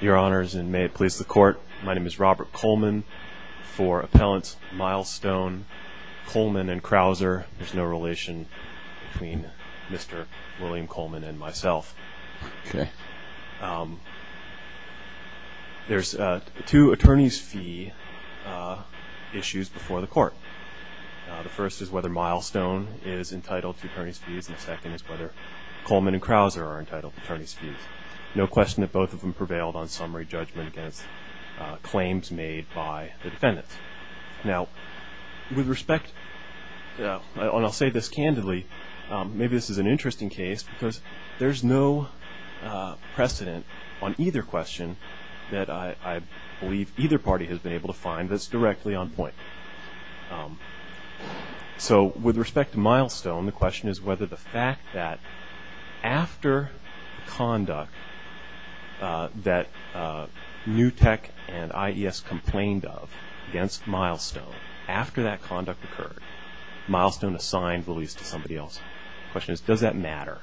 Your Honors, and may it please the Court, my name is Robert Coleman. For Appellant Milestone, Coleman and Crouser. There's no relation between Mr. William Coleman and myself. Okay. There's two attorney's fee issues before the Court. The first is whether Milestone is entitled to attorney's fees, and the second is whether Coleman and Crouser are entitled to attorney's fees. No question that both of them prevailed on summary judgment against claims made by the defendants. Now, with respect and I'll say this candidly, maybe this is an interesting case because there's no precedent on either question that I believe either party has been able to find that's directly on point. So with respect to Milestone, the question is whether the fact that after conduct that New Tech and IES complained of against Milestone, after that conduct occurred, Milestone assigned the lease to somebody else. The question is, does that matter?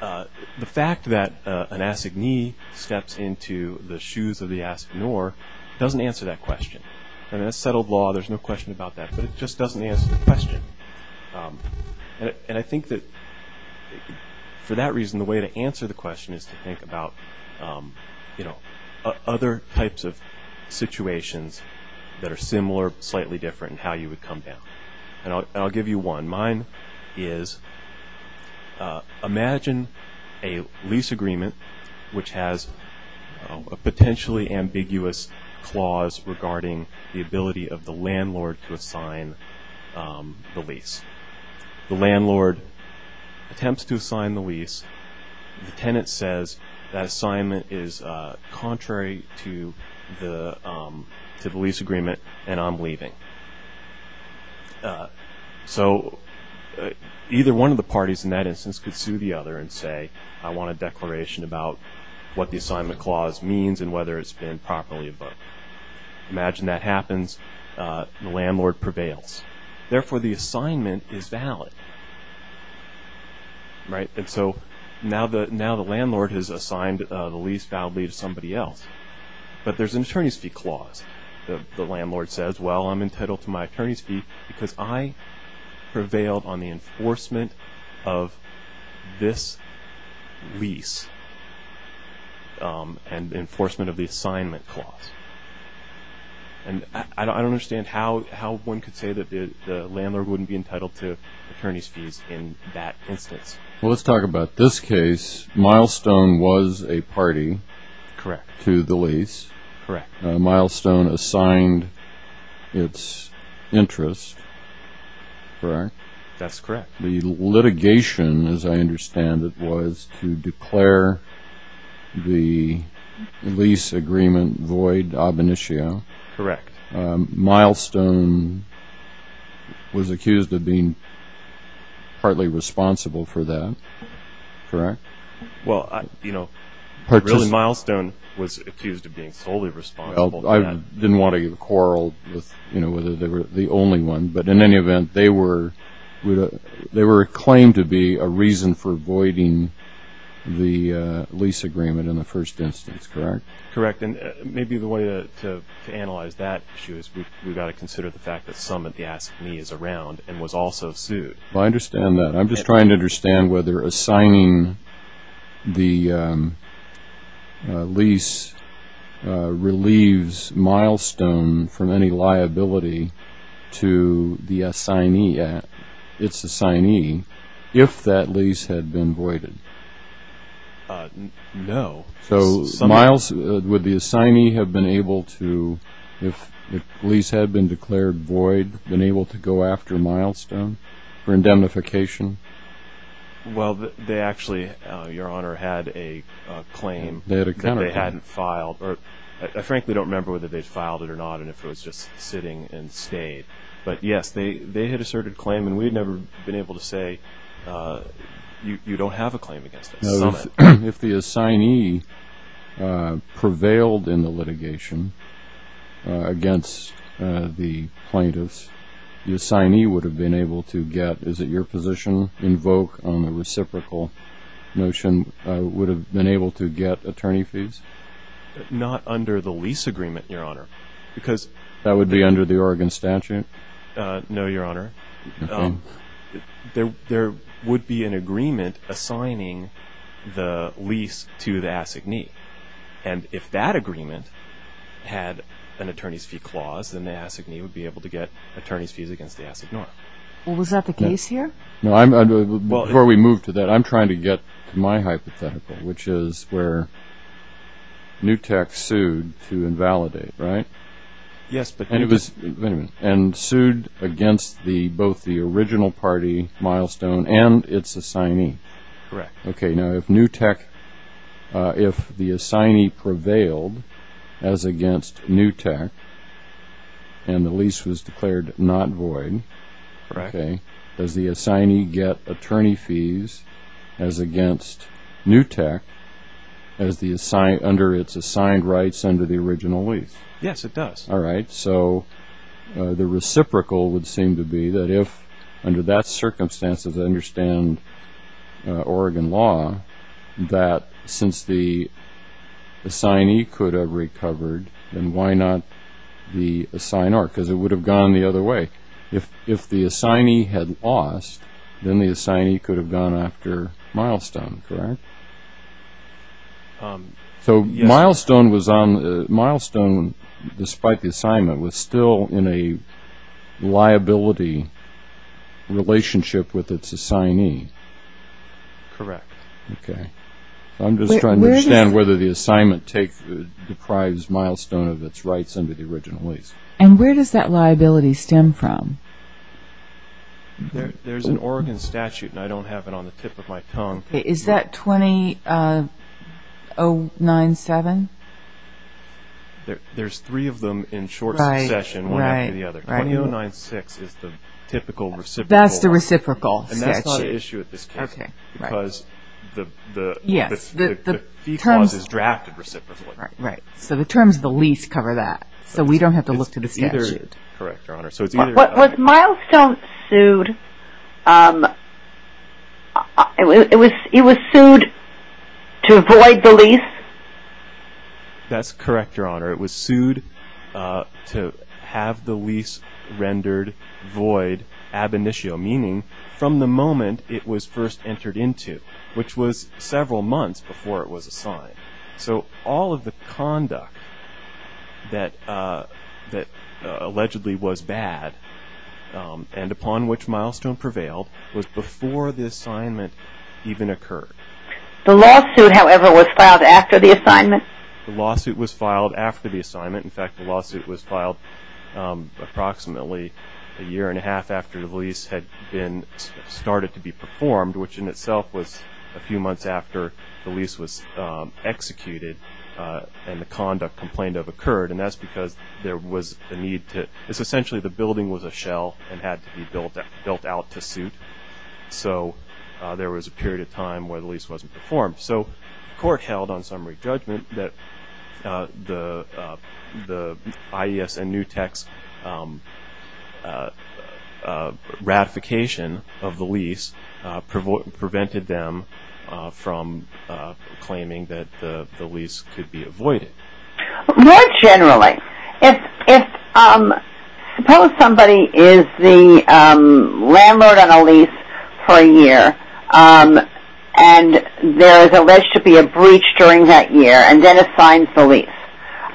The fact that an assignee steps into the shoes of the assignor doesn't answer that question. In a settled law, there's no question about that, but it just doesn't answer the question. And I think that for that reason, the way to answer the question is to think about other types of situations that are similar or slightly different in how you would come down. And I'll give you one. Mine is, imagine a lease agreement which has a potentially ambiguous clause regarding the ability of the landlord to assign the lease. The landlord attempts to assign the lease. The tenant says that assignment is contrary to the lease agreement, and I'm leaving. So either one of the parties in that instance could sue the other and say, I want a declaration about what the assignment clause means and whether it's been properly booked. Imagine that happens. The landlord prevails. Therefore, the assignment is valid. Right? And so now the landlord has assigned the lease validly to somebody else. But there's an attorney's fee clause. The landlord says, well, I'm entitled to my attorney's fee because I prevailed on the enforcement of this lease and the enforcement of the assignment clause. And I don't understand how one could say that the landlord wouldn't be entitled to attorney's fees in that instance. Well, let's talk about this case. Milestone was a party to the lease. Correct. Milestone assigned its interest. Correct? That's correct. The litigation, as I understand it, was to declare the lease agreement void ab initio. Correct. Milestone was accused of being partly responsible for that. Correct? Well, you know, Milestone was accused of being solely responsible. I didn't want to quarrel with, you know, whether they were the only one. But in any event, they were claimed to be a reason for the lease agreement in the first instance. Correct? Correct. And maybe the way to analyze that issue is we've got to consider the fact that some of the assignee is around and was also sued. I understand that. I'm just trying to understand whether assigning the lease relieves Milestone from any liability to the assignee, its assignee, if that lease had been voided. No. So, would the assignee have been able to, if the lease had been declared void, been able to go after Milestone for indemnification? Well, they actually, Your Honor, had a claim that they hadn't filed. I frankly don't remember whether they'd filed it or not and if it was just sitting and stayed. But, yes, they had asserted claim. And we've never been able to say you don't have a claim against us. If the assignee prevailed in the litigation against the plaintiffs, the assignee would have been able to get, is it your position, invoke on the reciprocal notion, would have been able to get attorney fees? Not under the lease agreement, Your Honor. That would be under the Oregon statute? No, Your Honor. There would be an agreement assigning the lease to the assignee and if that agreement had an attorney's fee clause then the assignee would be able to get attorney's fees against the assignee. Was that the case here? Before we move to that, I'm trying to get to my hypothetical, which is where NewTek sued to invalidate, right? Yes, but NewTek... sued against both the original party milestone and its assignee. Correct. Okay, now if NewTek if the assignee prevailed as against NewTek and the lease was declared not void, does the assignee get attorney fees as against NewTek under its assigned rights under the original lease? Yes, it does. Alright, so the reciprocal would seem to be that if under that circumstance, as I understand Oregon law, that since the assignee could have recovered, then why not the assignor? Because it would have gone the other way. If the assignee had lost, then the assignee could have gone after milestone. Correct? So milestone was on milestone, despite the assignment, was still in a liability relationship with its assignee. Correct. Okay. I'm just trying to understand whether the assignment deprives milestone of its rights under the original lease. And where does that liability stem from? There's an Oregon statute, and I don't have it on the tip of my tongue. Is that 20-09-7? There's three of them in short succession, one after the other. 20-09-6 is the typical reciprocal. That's the reciprocal statute. And that's not an issue at this case. Because the fee clause is drafted reciprocally. Right. So the terms of the lease cover that. So we don't have to look to the statute. Correct, Your Honor. Was milestone sued It was sued to void the lease? That's correct, Your Honor. It was sued to have the lease rendered void ab initio, meaning from the moment it was first entered into, which was several months before it was assigned. So all of the conduct that allegedly was bad and upon which milestone prevailed was before the assignment even occurred. The lawsuit, however, was filed after the assignment? The lawsuit was filed after the assignment. In fact, the lawsuit was filed approximately a year and a half after the lease had started to be performed, which in itself was a few months after the lease was executed and the conduct complained of occurred. And that's because there was the need to. It's essentially the building was a shell and had to be built out to suit. So there was a period of time where the lease wasn't performed. So the court held on summary judgment that the IES and NUTEX ratification of the lease prevented them from claiming that the lease could be avoided. More generally, suppose somebody is the landlord on a lease for a year and there is alleged to be a breach during that year and then assigns the lease.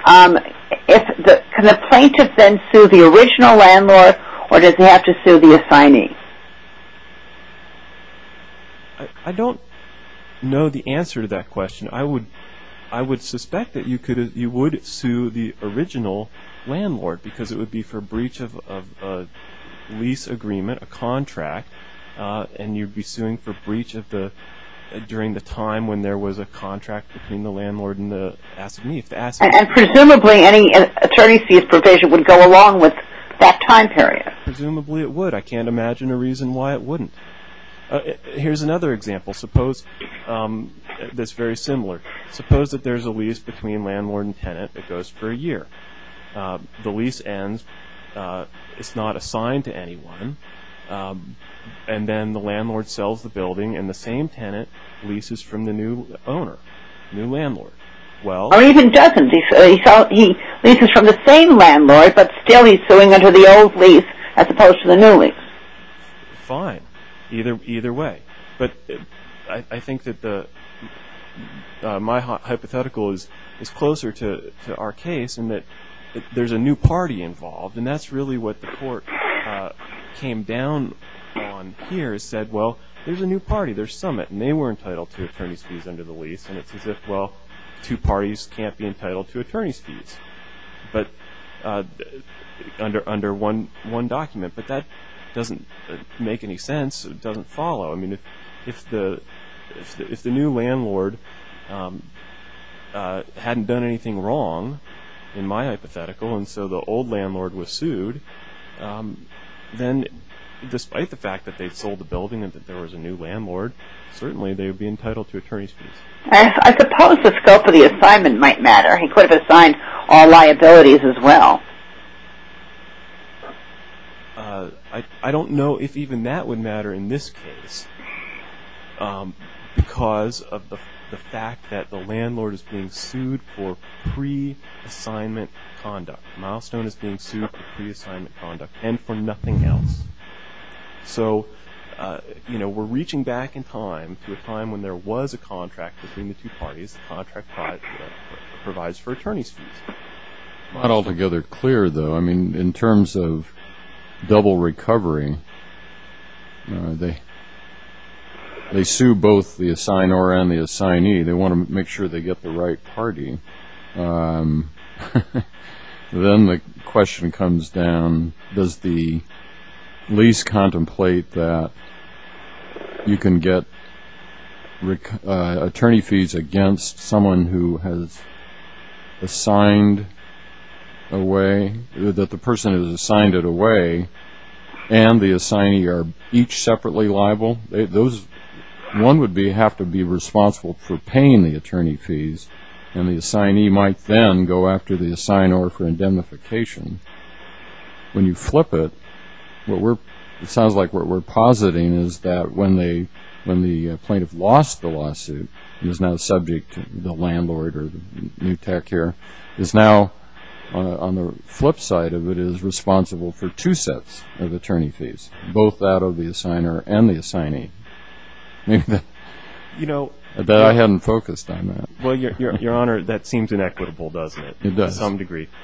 Can the plaintiff then sue the original landlord or does he have to sue the assignee? I don't know the answer to that question. I would suspect that you would sue the original landlord because it would be for breach of lease agreement, a contract, and you'd be suing for breach during the time when there was a contract between the landlord and the assignee. And presumably any attorney fees provision would go along with that time period. Presumably it would. I can't imagine a reason why it wouldn't. Here's another example. Suppose that there's a lease between landlord and tenant that goes for a year. The lease ends. It's not assigned to anyone. And then the landlord sells the building and the same tenant leases from the new owner, new landlord. Or even doesn't. He leases from the same landlord but still he's suing under the old lease as opposed to the new lease. Fine. Either way. But I think that my hypothetical is closer to our case in that there's a new party involved. And that's really what the court came down on here. It said, well, there's a new party. There's Summit. And they were entitled to attorney's fees under the lease. And it's as if, well, two parties can't be entitled to attorney's fees. Under one document. But that doesn't make any sense. It doesn't follow. I mean, if the new landlord hadn't done anything wrong in my hypothetical and so the old landlord was sued then despite the fact that they sold the building and that there was a new landlord, certainly they would be entitled to attorney's fees. I suppose the scope of the assignment might matter. He could have assigned all liabilities as well. I don't know if even that would matter in this case because of the fact that the landlord is being sued for pre-assignment conduct. Milestone is being sued for pre-assignment conduct and for nothing else. So we're reaching back in time to a time when there was a contract between the two parties. The contract provides for attorney's fees. It's not altogether clear though. I mean, in terms of double recovery, they sue both the assignor and the assignee. They want to make sure they get the right party. Then the question comes down, does the lease contemplate that you can get attorney's fees against someone who has assigned away and the assignee are each separately liable? One would have to be responsible for paying the attorney fees and the assignee might then go after the assignor for indemnification. When you flip it, it sounds like what we're positing is that when the plaintiff lost the lawsuit he was now subject to the landlord or the new tech here is now, on the flip side of it, is responsible for two sets of attorney fees, both that of the assignor and the assignee. I bet I hadn't focused on that. Well, your honor, that seems inequitable, doesn't it? It does.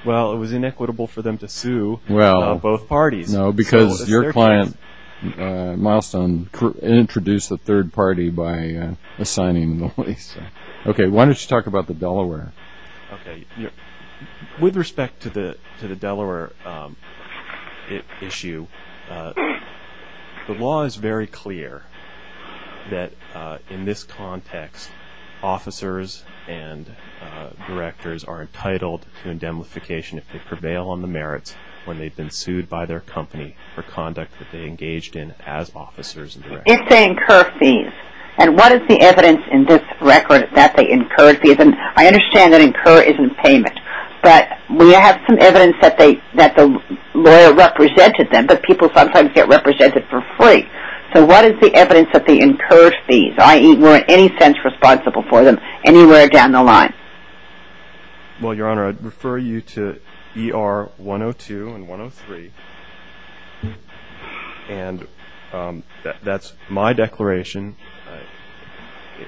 Well, it was inequitable for them to sue both parties. No, because your client, Milestone, introduced the third party by assigning the lease. Why don't you talk about the Delaware? With respect to the Delaware issue, the law is very clear that in this context, officers and directors are entitled to indemnification if they prevail on the merits when they've been sued by their company for conduct that they engaged in as clients. And what is the evidence in this record that they incurred fees? I understand that incur is in payment, but we have some evidence that the lawyer represented them, but people sometimes get represented for free. So what is the evidence that they incurred fees, i.e., were in any sense responsible for them anywhere down the line? Well, your honor, I'd refer you to ER 102 and 103, and that's my declaration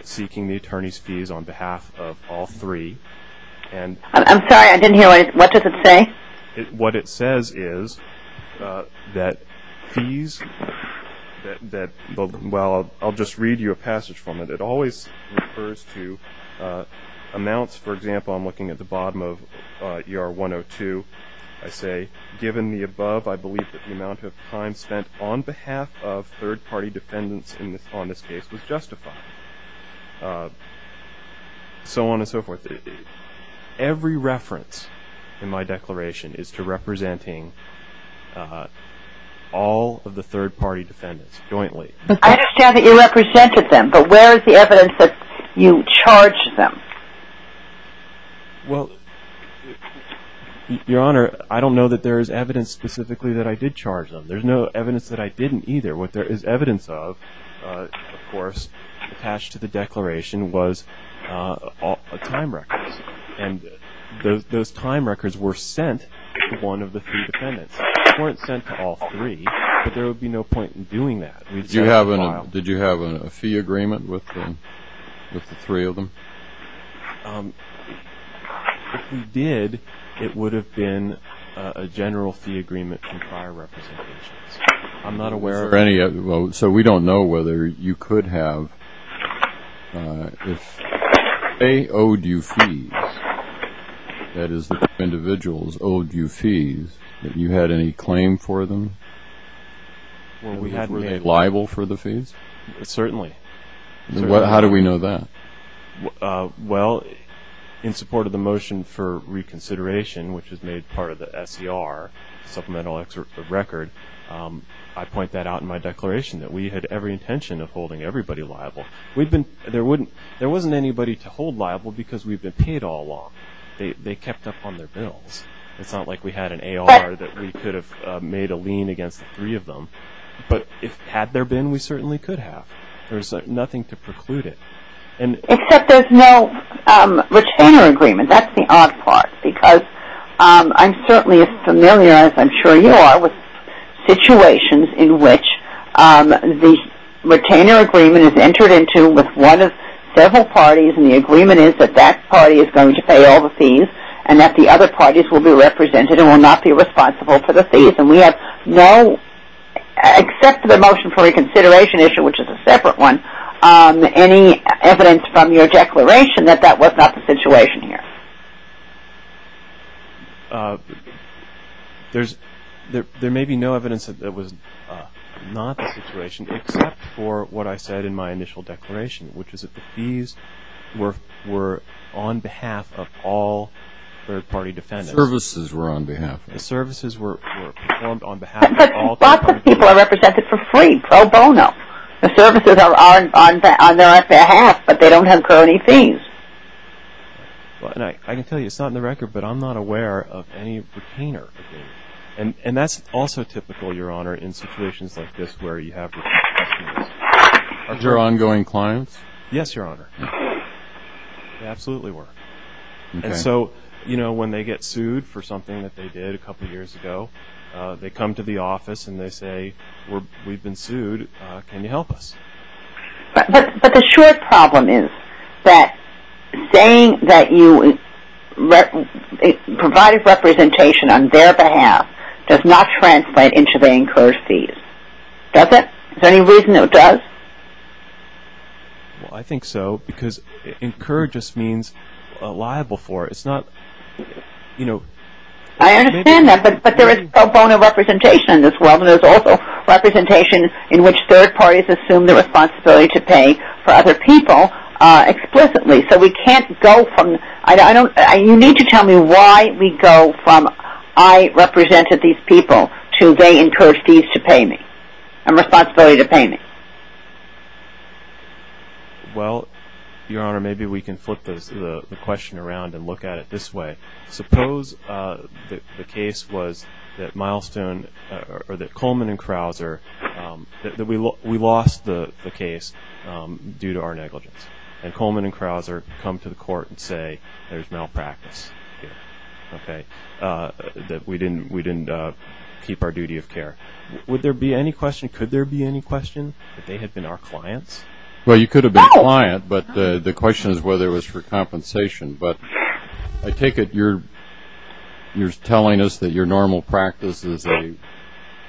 seeking the attorney's fees on behalf of all three. I'm sorry, I didn't hear. What does it say? What it says is that fees that, well, I'll just read you a passage from it. It always refers to amounts, for example, I'm looking at the bottom of ER 102. I say, given the above, I believe that the amount of time spent on behalf of third-party defendants on this case was justified. So on and so forth. Every reference in my declaration is to representing all of the third-party defendants jointly. I understand that you represented them, but where is the evidence that you charged them? Well, your honor, I don't know that there is evidence specifically that I did charge them. There's no evidence that I didn't either. What there is evidence of, of course, attached to the declaration was time records, and those time records were sent to one of the three defendants. They weren't sent to all three, but there would be no point in doing that. Did you have a fee agreement with the three of them? If we did, it would have been a general fee agreement from prior representations. I'm not aware of any. So we don't know whether you could have, if they owed you fees, that is, the individuals owed you fees, that you had any claim for them? Were they liable for the fees? Certainly. How do we know that? Well, in support of the motion for reconsideration, which was made part of the SCR, Supplemental Record, I point that out in my declaration, that we had every intention of holding everybody liable. There wasn't anybody to hold liable because we've been paid all along. They kept up on their bills. It's not like we had an AR that we could have made a lien against the three of them. But had there been, we certainly could have. There's nothing to preclude it. Except there's no retainer agreement. That's the odd part because I'm certainly as familiar as I'm sure you are with situations in which the retainer agreement is entered into with one of several parties and the agreement is that that party is going to pay all the fees and that the other parties will be represented and will not be responsible for the fees. And we have no except for the motion for reconsideration issue, which is a separate one, any evidence from your declaration that that was not the situation here. There may be no evidence that it was not the situation except for what I said in my initial declaration, which is that the fees were on behalf of all third party defendants. The services were on behalf of them. The services were performed on behalf of all third party defendants. But lots of people are represented for free, pro bono. The services are on their behalf, but they don't have any fees. I can tell you, it's not in the record, but I'm not aware of any retainer agreement. And that's also typical, Your Honor, in situations like this where you have Your ongoing clients? Yes, Your Honor. They absolutely were. And so, you know, when they get sued for something that they did a couple years ago, they come to the office and they say we've been sued. Can you help us? But the short problem is that saying that you provided representation on their behalf does not translate into the incurred fees. Does it? Is there any reason it does? Well, I think so, because incurred just means liable for it. It's not, you know... I understand that, but there is pro bono representation as well, but there's also representation in which third parties assume the responsibility to pay for other people explicitly. So we can't go from... You need to tell me why we go from I represented these people to they incurred fees to pay me, and responsibility to pay me. Well, Your Honor, maybe we can flip the question around and look at it this way. Suppose the case was that Milestone, or that Coleman and Krauser, that we lost the case due to our negligence. And Coleman and Krauser come to the court and say there's malpractice here. That we didn't keep our duty of care. Would there be any question, could there be any question that they had been our clients? Well, you could have been a client, but the question is whether it was for compensation. But I take it you're telling us that your normal practice as a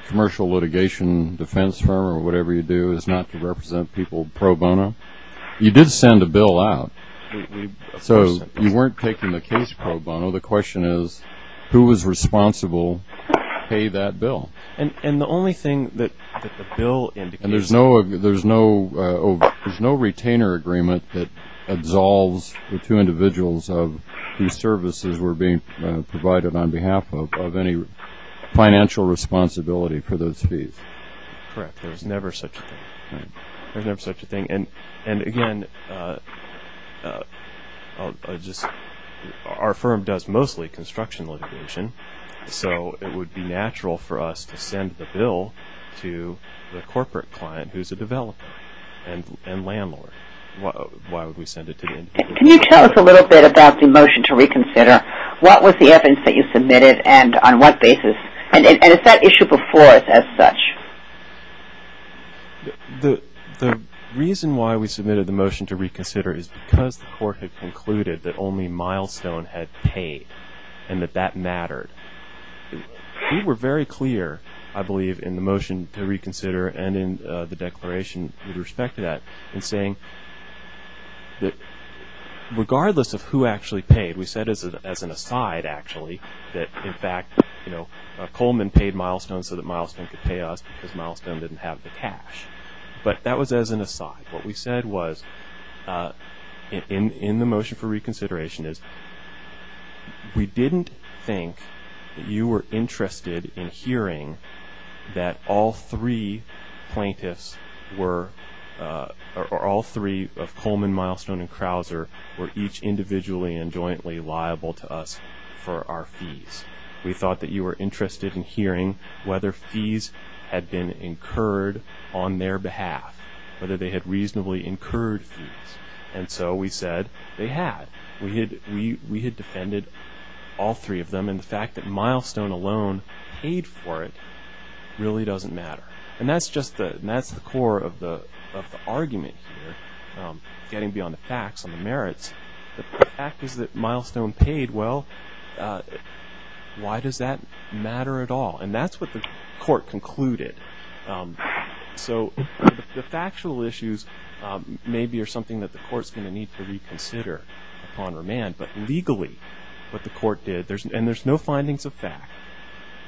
commercial litigation defense firm, or whatever you do, is not to represent people pro bono? You did send a bill out, so you weren't taking the case pro bono. The question is, who was responsible to pay that bill? And the only thing that the bill indicates... And there's no retainer agreement that two individuals whose services were being provided on behalf of any financial responsibility for those fees. Correct. There's never such a thing. And again, our firm does mostly construction litigation, so it would be natural for us to send the bill to the corporate client who's a developer and landlord. Can you tell us a little bit about the motion to reconsider? What was the evidence that you submitted and on what basis? And is that issue before us as such? The reason why we submitted the motion to reconsider is because the court had concluded that only Milestone had paid and that that mattered. We were very clear I believe in the motion to reconsider and in the declaration with respect to that in saying that regardless of who actually paid, we said as an aside actually that in fact Coleman paid Milestone so that Milestone could pay us because Milestone didn't have the cash. But that was as an aside. What we said was in the motion for reconsideration is we didn't think that you were interested in hearing that all three plaintiffs were, or all three of Coleman, Milestone, and Krauser were each individually and jointly liable to us for our fees. We thought that you were interested in hearing whether fees had been incurred on their behalf. Whether they had reasonably incurred fees. And so we said they had. We had defended all three of them and the fact that Milestone alone paid for it really doesn't matter. And that's just the core of the argument here, getting beyond the facts on the merits. The fact is that Milestone paid, well, why does that matter at all? And that's what the court concluded. So the factual issues maybe are something that the court's going to need to reconsider upon remand. But legally what the court did, and there's no findings of fact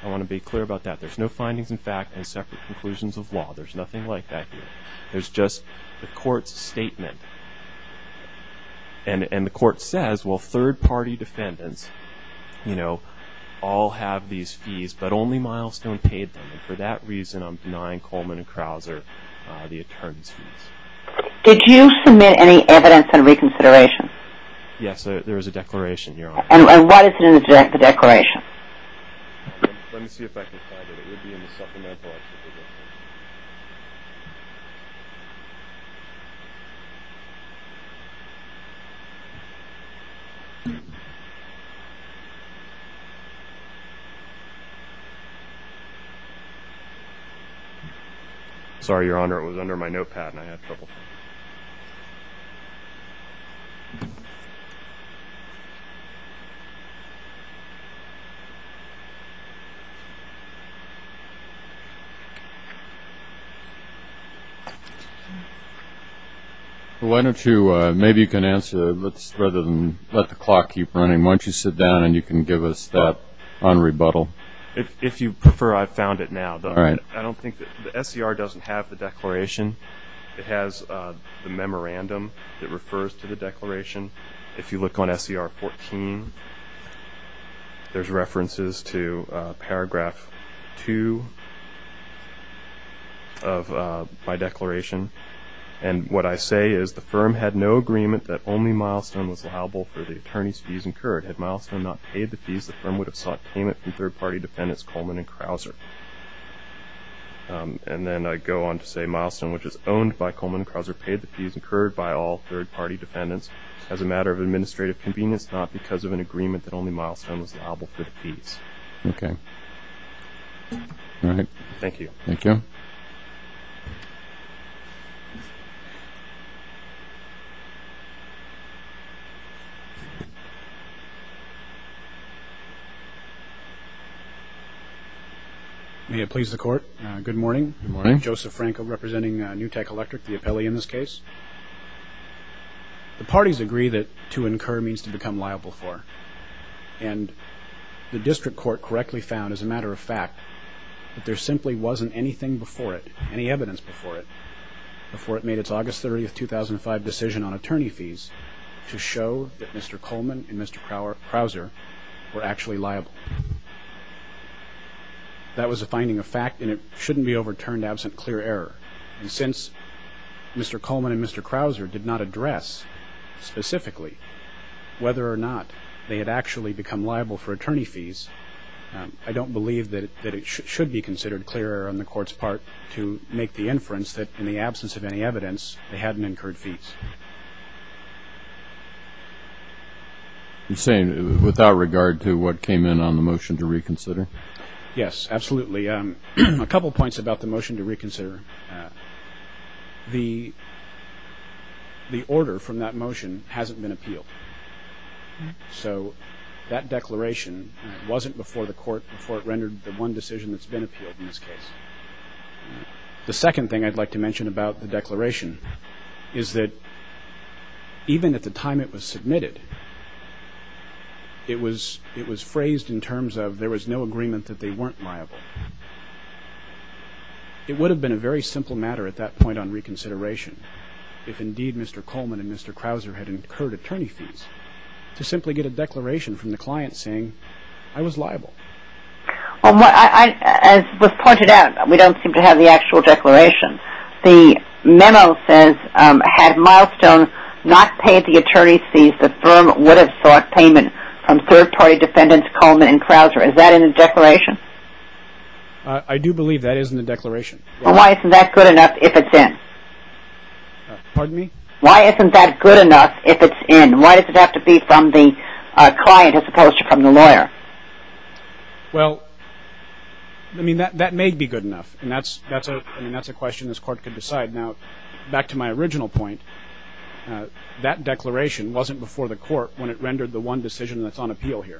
I want to be clear about that. There's no findings of fact and separate conclusions of law. There's nothing like that here. There's just the court's statement. And the court says, well, third-party defendants all have these fees, but only Milestone paid them. And for that reason I'm denying Coleman and Krauser the attorney's fees. Did you submit any evidence on reconsideration? Yes, there is a declaration, Your Honor. And what is in the declaration? Let me see if I can find it. It would be in the supplemental. Sorry, Your Honor, it was under my notepad and I had trouble finding it. Well, why don't you, maybe you can answer rather than let the clock keep running, why don't you sit down and you can give us that on rebuttal. If you prefer, I've found it now. I don't think, the SCR doesn't have the declaration. It has the memorandum. It refers to the declaration. that it's not in the declaration. There's references to paragraph 2 of my declaration. And what I say is, the firm had no agreement that only Milestone was liable for the attorney's fees incurred. Had Milestone not paid the fees, the firm would have sought payment from third-party defendants Coleman and Krauser. And then I go on to say, Milestone, which is owned by Coleman and Krauser, paid the fees incurred by all third-party defendants as a matter of administrative convenience, not because of an agreement that only Milestone was liable for the fees. Thank you. May it please the Court, good morning. Joseph Franco representing New Tech Electric, the appellee in this case. The parties agree that to incur means to become liable for, and the district court correctly found as a matter of fact, that there simply wasn't anything before it, any evidence before it, before it made its August 30, 2005 decision on attorney fees to show that Mr. Coleman and Mr. Krauser were actually liable. That was a finding of fact, and it shouldn't be overturned absent clear error. And since Mr. Coleman and Mr. Krauser did not address specifically whether or not they had actually become liable for attorney fees, I don't believe that it should be considered clear error on the Court's part to make the inference that in the absence of any evidence, they hadn't incurred fees. You're saying without regard to what came in on the motion to reconsider? Yes, absolutely. A couple points about the motion to reconsider. The order from that motion hasn't been appealed. So that declaration wasn't before the Court before it rendered the one decision that's been appealed in this case. The second thing I'd like to mention about the declaration is that even at the time it was submitted, it was phrased in terms of there was no agreement that they weren't liable. It would have been a very simple matter at that point on reconsideration if indeed Mr. Coleman and Mr. Krauser had incurred attorney fees to simply get a declaration from the client saying, I was liable. As was pointed out, we don't seem to have the actual declaration. The memo says, had Milestone not paid the attorney fees, the firm would have sought payment from third party defendants Coleman and Krauser. Is that in the declaration? I do believe that is in the declaration. Why isn't that good enough if it's in? Pardon me? Why isn't that good enough if it's in? Why does it have to be from the client as opposed to from the lawyer? Well, that may be good enough. That's a question this Court can decide. Now, back to my original point, that declaration wasn't before the Court when it All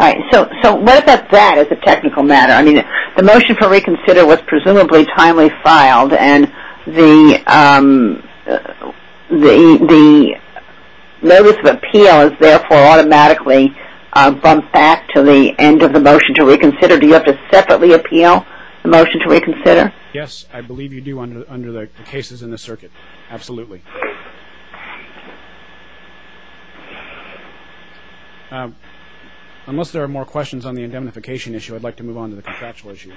right. So what about that as a technical matter? The motion for reconsider was presumably timely filed and the notice of appeal is therefore automatically bumped back to the end of the motion to reconsider. Do you have to separately appeal the motion to reconsider? Yes, I believe you do under the cases in the circuit. Absolutely. Unless there are more questions on the indemnification issue, I'd like to move on to the contractual issue.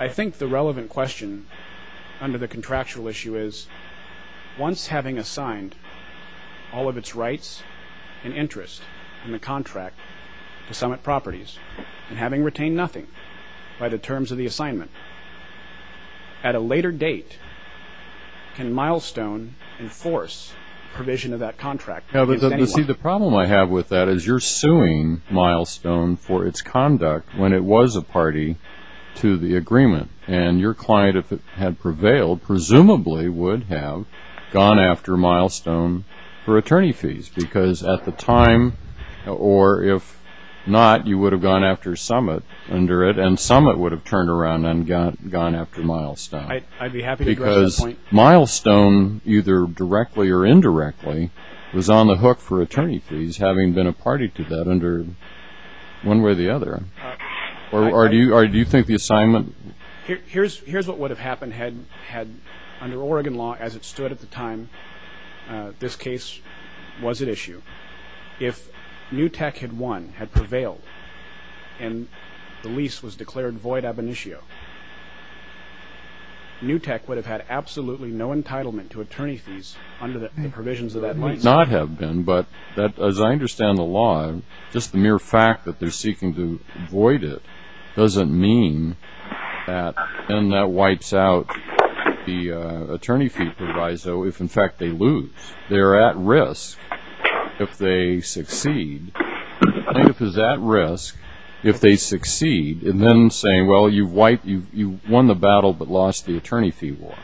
I think the relevant question under the contractual issue is, once having assigned all of its rights and interest in the contract to Summit Properties and having retained nothing by the terms of the assignment, at a later date, can Milestone enforce provision of that contract? See, the problem I have with that is you're suing Milestone for its conduct when it was a party to the agreement, and your client, if it had prevailed, presumably would have gone after Milestone for attorney fees, because at the time, or if not, you would have gone after Summit under it, and Summit would have turned around and gone after Milestone. I'd be happy to address that point. Because Milestone, either directly or indirectly, was on the hook for attorney fees, having been a party to that under one way or the other. Or do you think the assignment... Here's what would have happened had, under Oregon law, as it stood at the time this case was at issue. If NewTek had won, had prevailed, and the lease was declared void ab initio, NewTek would have had absolutely no entitlement to attorney fees under the provisions of that lease. Not have been, but as I understand the law, just the mere fact that they're seeking to void it doesn't mean that then that wipes out the attorney fee proviso, if in fact they lose. They're at risk if they succeed. I think if it's at risk if they succeed, and then saying, well, you've won the battle but lost the attorney fee war.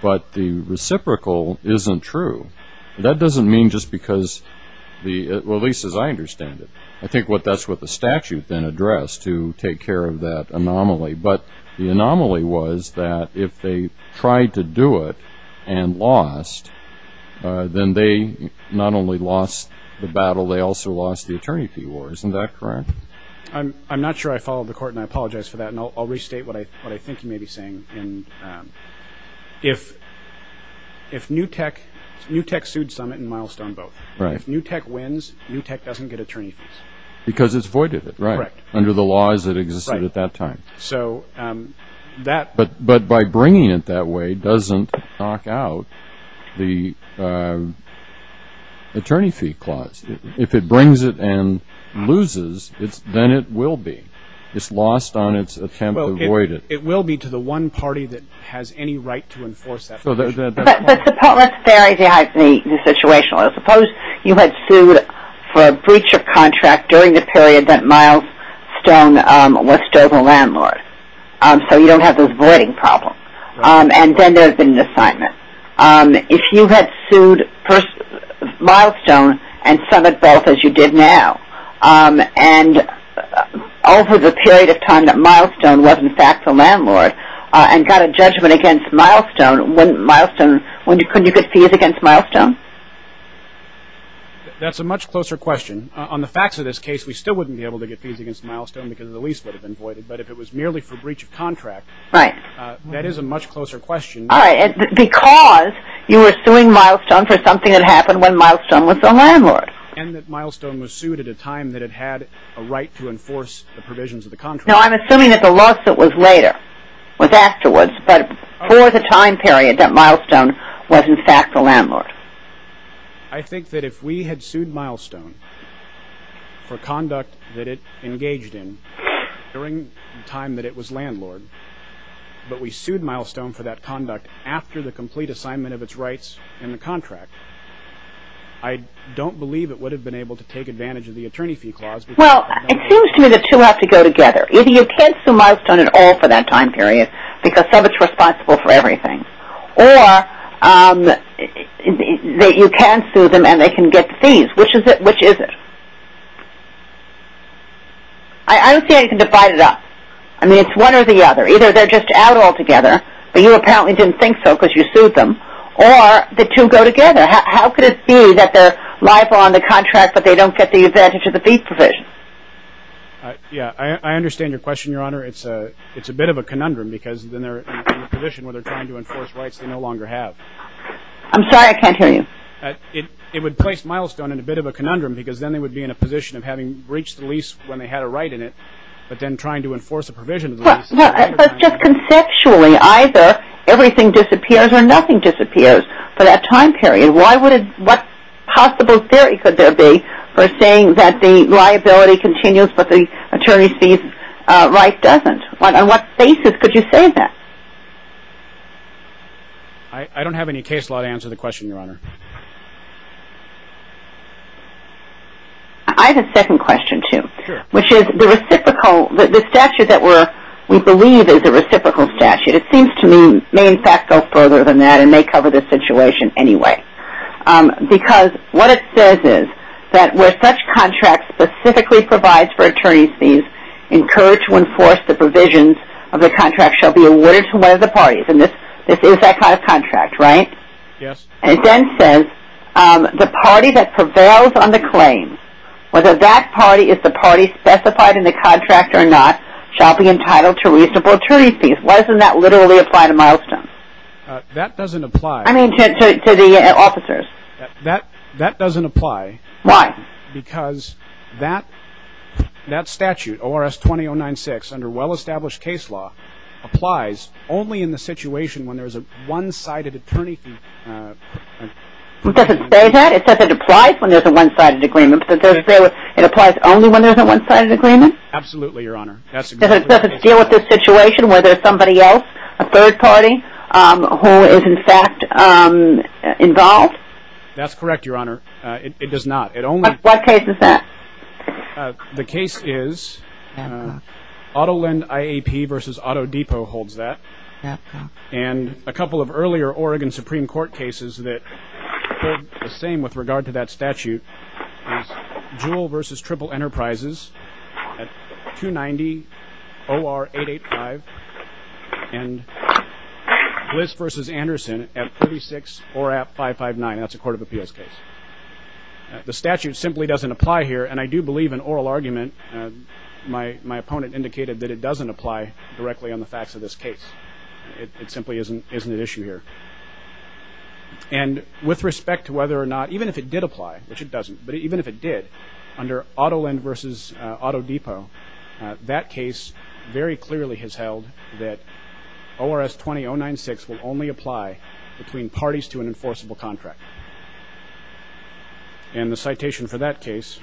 But the reciprocal isn't true. That doesn't mean just because the lease, as I understand it, I think that's what the statute then addressed to take care of that anomaly. But the anomaly was that if they tried to do it and lost, then they not only lost the battle, they also lost the attorney fee war. Isn't that correct? I'm not sure I followed the court, and I apologize for that, and I'll restate what I think you may be saying. If NewTek sued Summit and Milestone both. If NewTek wins, NewTek doesn't get attorney fees. Because it's voided, right? Correct. Under the laws that existed at that time. But by bringing it that way doesn't knock out the attorney fee clause. If it brings it and loses, then it will be. It's lost on its attempt to avoid it. It will be to the one party that has any right to enforce that. Let's vary the situation. Suppose you had sued for a breach of contract during the period that Milestone was still the landlord. So you don't have those voiding problems. And then there's been an assignment. If you had sued Milestone and Summit both as you did now, and over the period of time that Milestone was in fact the landlord, and got a judgment against Milestone, couldn't you get fees against Milestone? That's a much closer question. On the facts of this case, we still wouldn't be able to get fees against Milestone because the lease would have been voided. But if it was merely for breach of contract, that is a much closer question. Because you were suing Milestone for something that happened when Milestone was the landlord. And that Milestone was sued at a time that it had a right to enforce the provisions of the contract. No, I'm assuming that the lawsuit was later. It was afterwards. But for the time period that Milestone was in fact the landlord. I think that if we had sued Milestone for conduct that it engaged in during the time that it was landlord, but we sued Milestone for that assignment of its rights in the contract, I don't believe it would have been able to take advantage of the attorney fee clause. Well, it seems to me that the two have to go together. Either you can't sue Milestone at all for that time period because Summit's responsible for everything. Or, you can sue them and they can get fees. Which is it? I don't see how you can divide it up. I mean, it's one or the other. Either they're just out altogether, but you apparently didn't think so because you sued them, or the two go together. How could it be that they're liable on the contract but they don't get the advantage of the fee provision? Yeah, I understand your question, Your Honor. It's a bit of a conundrum because then they're in a position where they're trying to enforce rights they no longer have. I'm sorry, I can't hear you. It would place Milestone in a bit of a conundrum because then they would be in a position of having breached the lease when they had a right in it, but then trying to enforce a provision of the lease. But just conceptually, either everything disappears or nothing disappears for that time period. What possible theory could there be for saying that the liability continues but the attorney's fees right doesn't? On what basis could you say that? I don't have any case law to answer the question, Your Honor. I have a second question, too, which is the reciprocal statute that we believe is a reciprocal statute, it seems to me may in fact go further than that and may cover this situation anyway. Because what it says is that where such contracts specifically provide for attorney's fees, incurred to enforce the provisions of the contract shall be awarded to one of the parties. And this is that kind of contract, right? Yes. And it then says the party that prevails on the claim, whether that party is the party specified in the contract or not, shall be entitled to reciprocal attorney's fees. Why doesn't that literally apply to Milestone? That doesn't apply. I mean to the officers. That doesn't apply. Why? Because that statute, ORS 20-096, under well-established case law, applies only in the situation when there is a one-sided attorney fee when there is a one-sided agreement? Absolutely, Your Honor. Does it deal with this situation where there is somebody else, a third party, who is in fact involved? That's correct, Your Honor. It does not. What case is that? The case is AutoLend IAP v. Auto Depot holds that. And a couple of earlier Oregon Supreme Court cases that hold the same with regard to that statute is Jewell v. Triple Enterprises at 290 OR 885 and Bliss v. Anderson at 36 ORAP 559. That's a court of appeals case. The statute simply doesn't apply here and I do believe in oral argument. My opponent indicated that it doesn't apply directly on the facts of this case. It simply isn't an issue here. And with respect to whether or not even if it did apply, which it doesn't, but even if it did, under AutoLend v. Auto Depot, that case very clearly has held that ORS 20-096 will only apply between parties to an enforceable contract. And the citation for that case...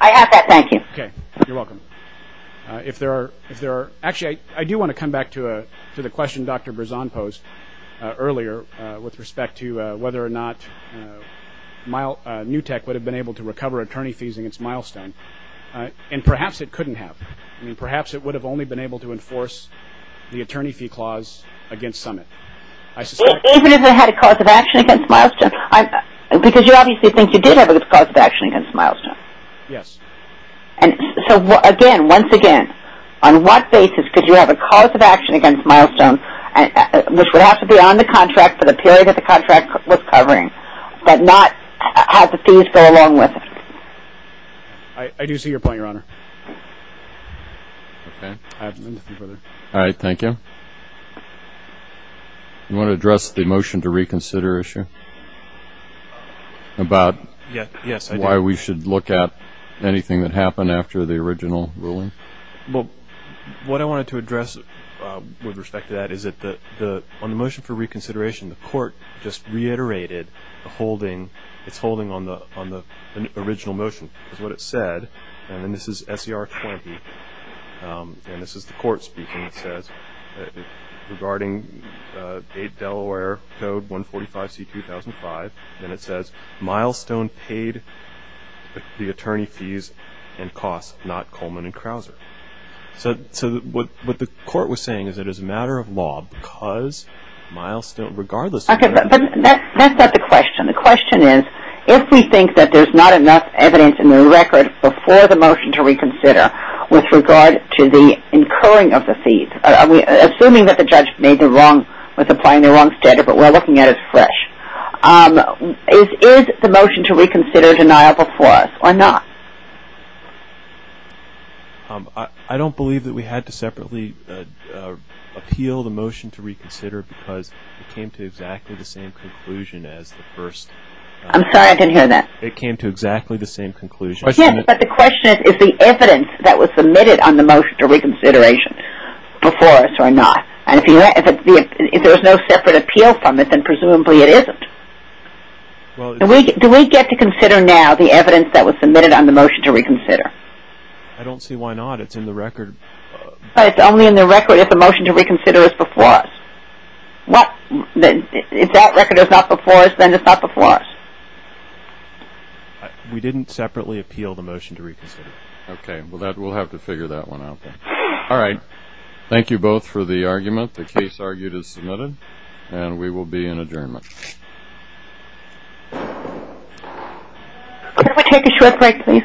I have that, thank you. Okay, you're welcome. Actually, I do want to come back to the question Dr. Berzon posed earlier with respect to whether or not NewTek would have been able to recover attorney fees against Milestone and perhaps it couldn't have. Perhaps it would have only been able to enforce the attorney fee clause against Summit. Even if it had a cause of action against Milestone? Because you obviously think you did have a cause of action against Milestone. Yes. And so again, once again, on what basis could you have a cause of action against Milestone which would have to be on the contract for the period that the contract was covering, but not have the fees go along with it? I do see your point, Your Honor. All right, thank you. You want to address the motion to reconsider issue? About why we should look at anything that happened after the original ruling? Well, what I wanted to add is that on the motion for reconsideration, the court just reiterated it's holding on the original motion because what it said, and this is SER 20 and this is the court speaking, it says regarding 8 Delaware Code 145C-2005, and it says Milestone paid the attorney fees and costs, not Coleman and Krauser. So what the court was saying is that it's a matter of law because Milestone regardless of whether... Okay, but that's not the question. The question is, if we think that there's not enough evidence in the record before the motion to reconsider with regard to the incurring of the fees, assuming that the judge made the wrong, was applying the wrong standard, but what we're looking at is fresh, is the motion to reconsider deniable for us or not? I don't believe that we had to separately appeal the motion to reconsider because it came to exactly the same conclusion as the first. I'm sorry, I didn't hear that. It came to exactly the same conclusion. Yes, but the question is, is the evidence that was submitted on the motion to reconsideration before us or not? And if there was no separate appeal from it, then presumably it isn't. Do we get to submit it on the motion to reconsider? I don't see why not. It's in the record. It's only in the record if the motion to reconsider is before us. What? If that record is not before us, then it's not before us. We didn't separately appeal the motion to reconsider. Okay, well we'll have to figure that one out then. Alright. Thank you both for the argument. The case argued is submitted. And we will be in adjournment. Can we take a short break, please?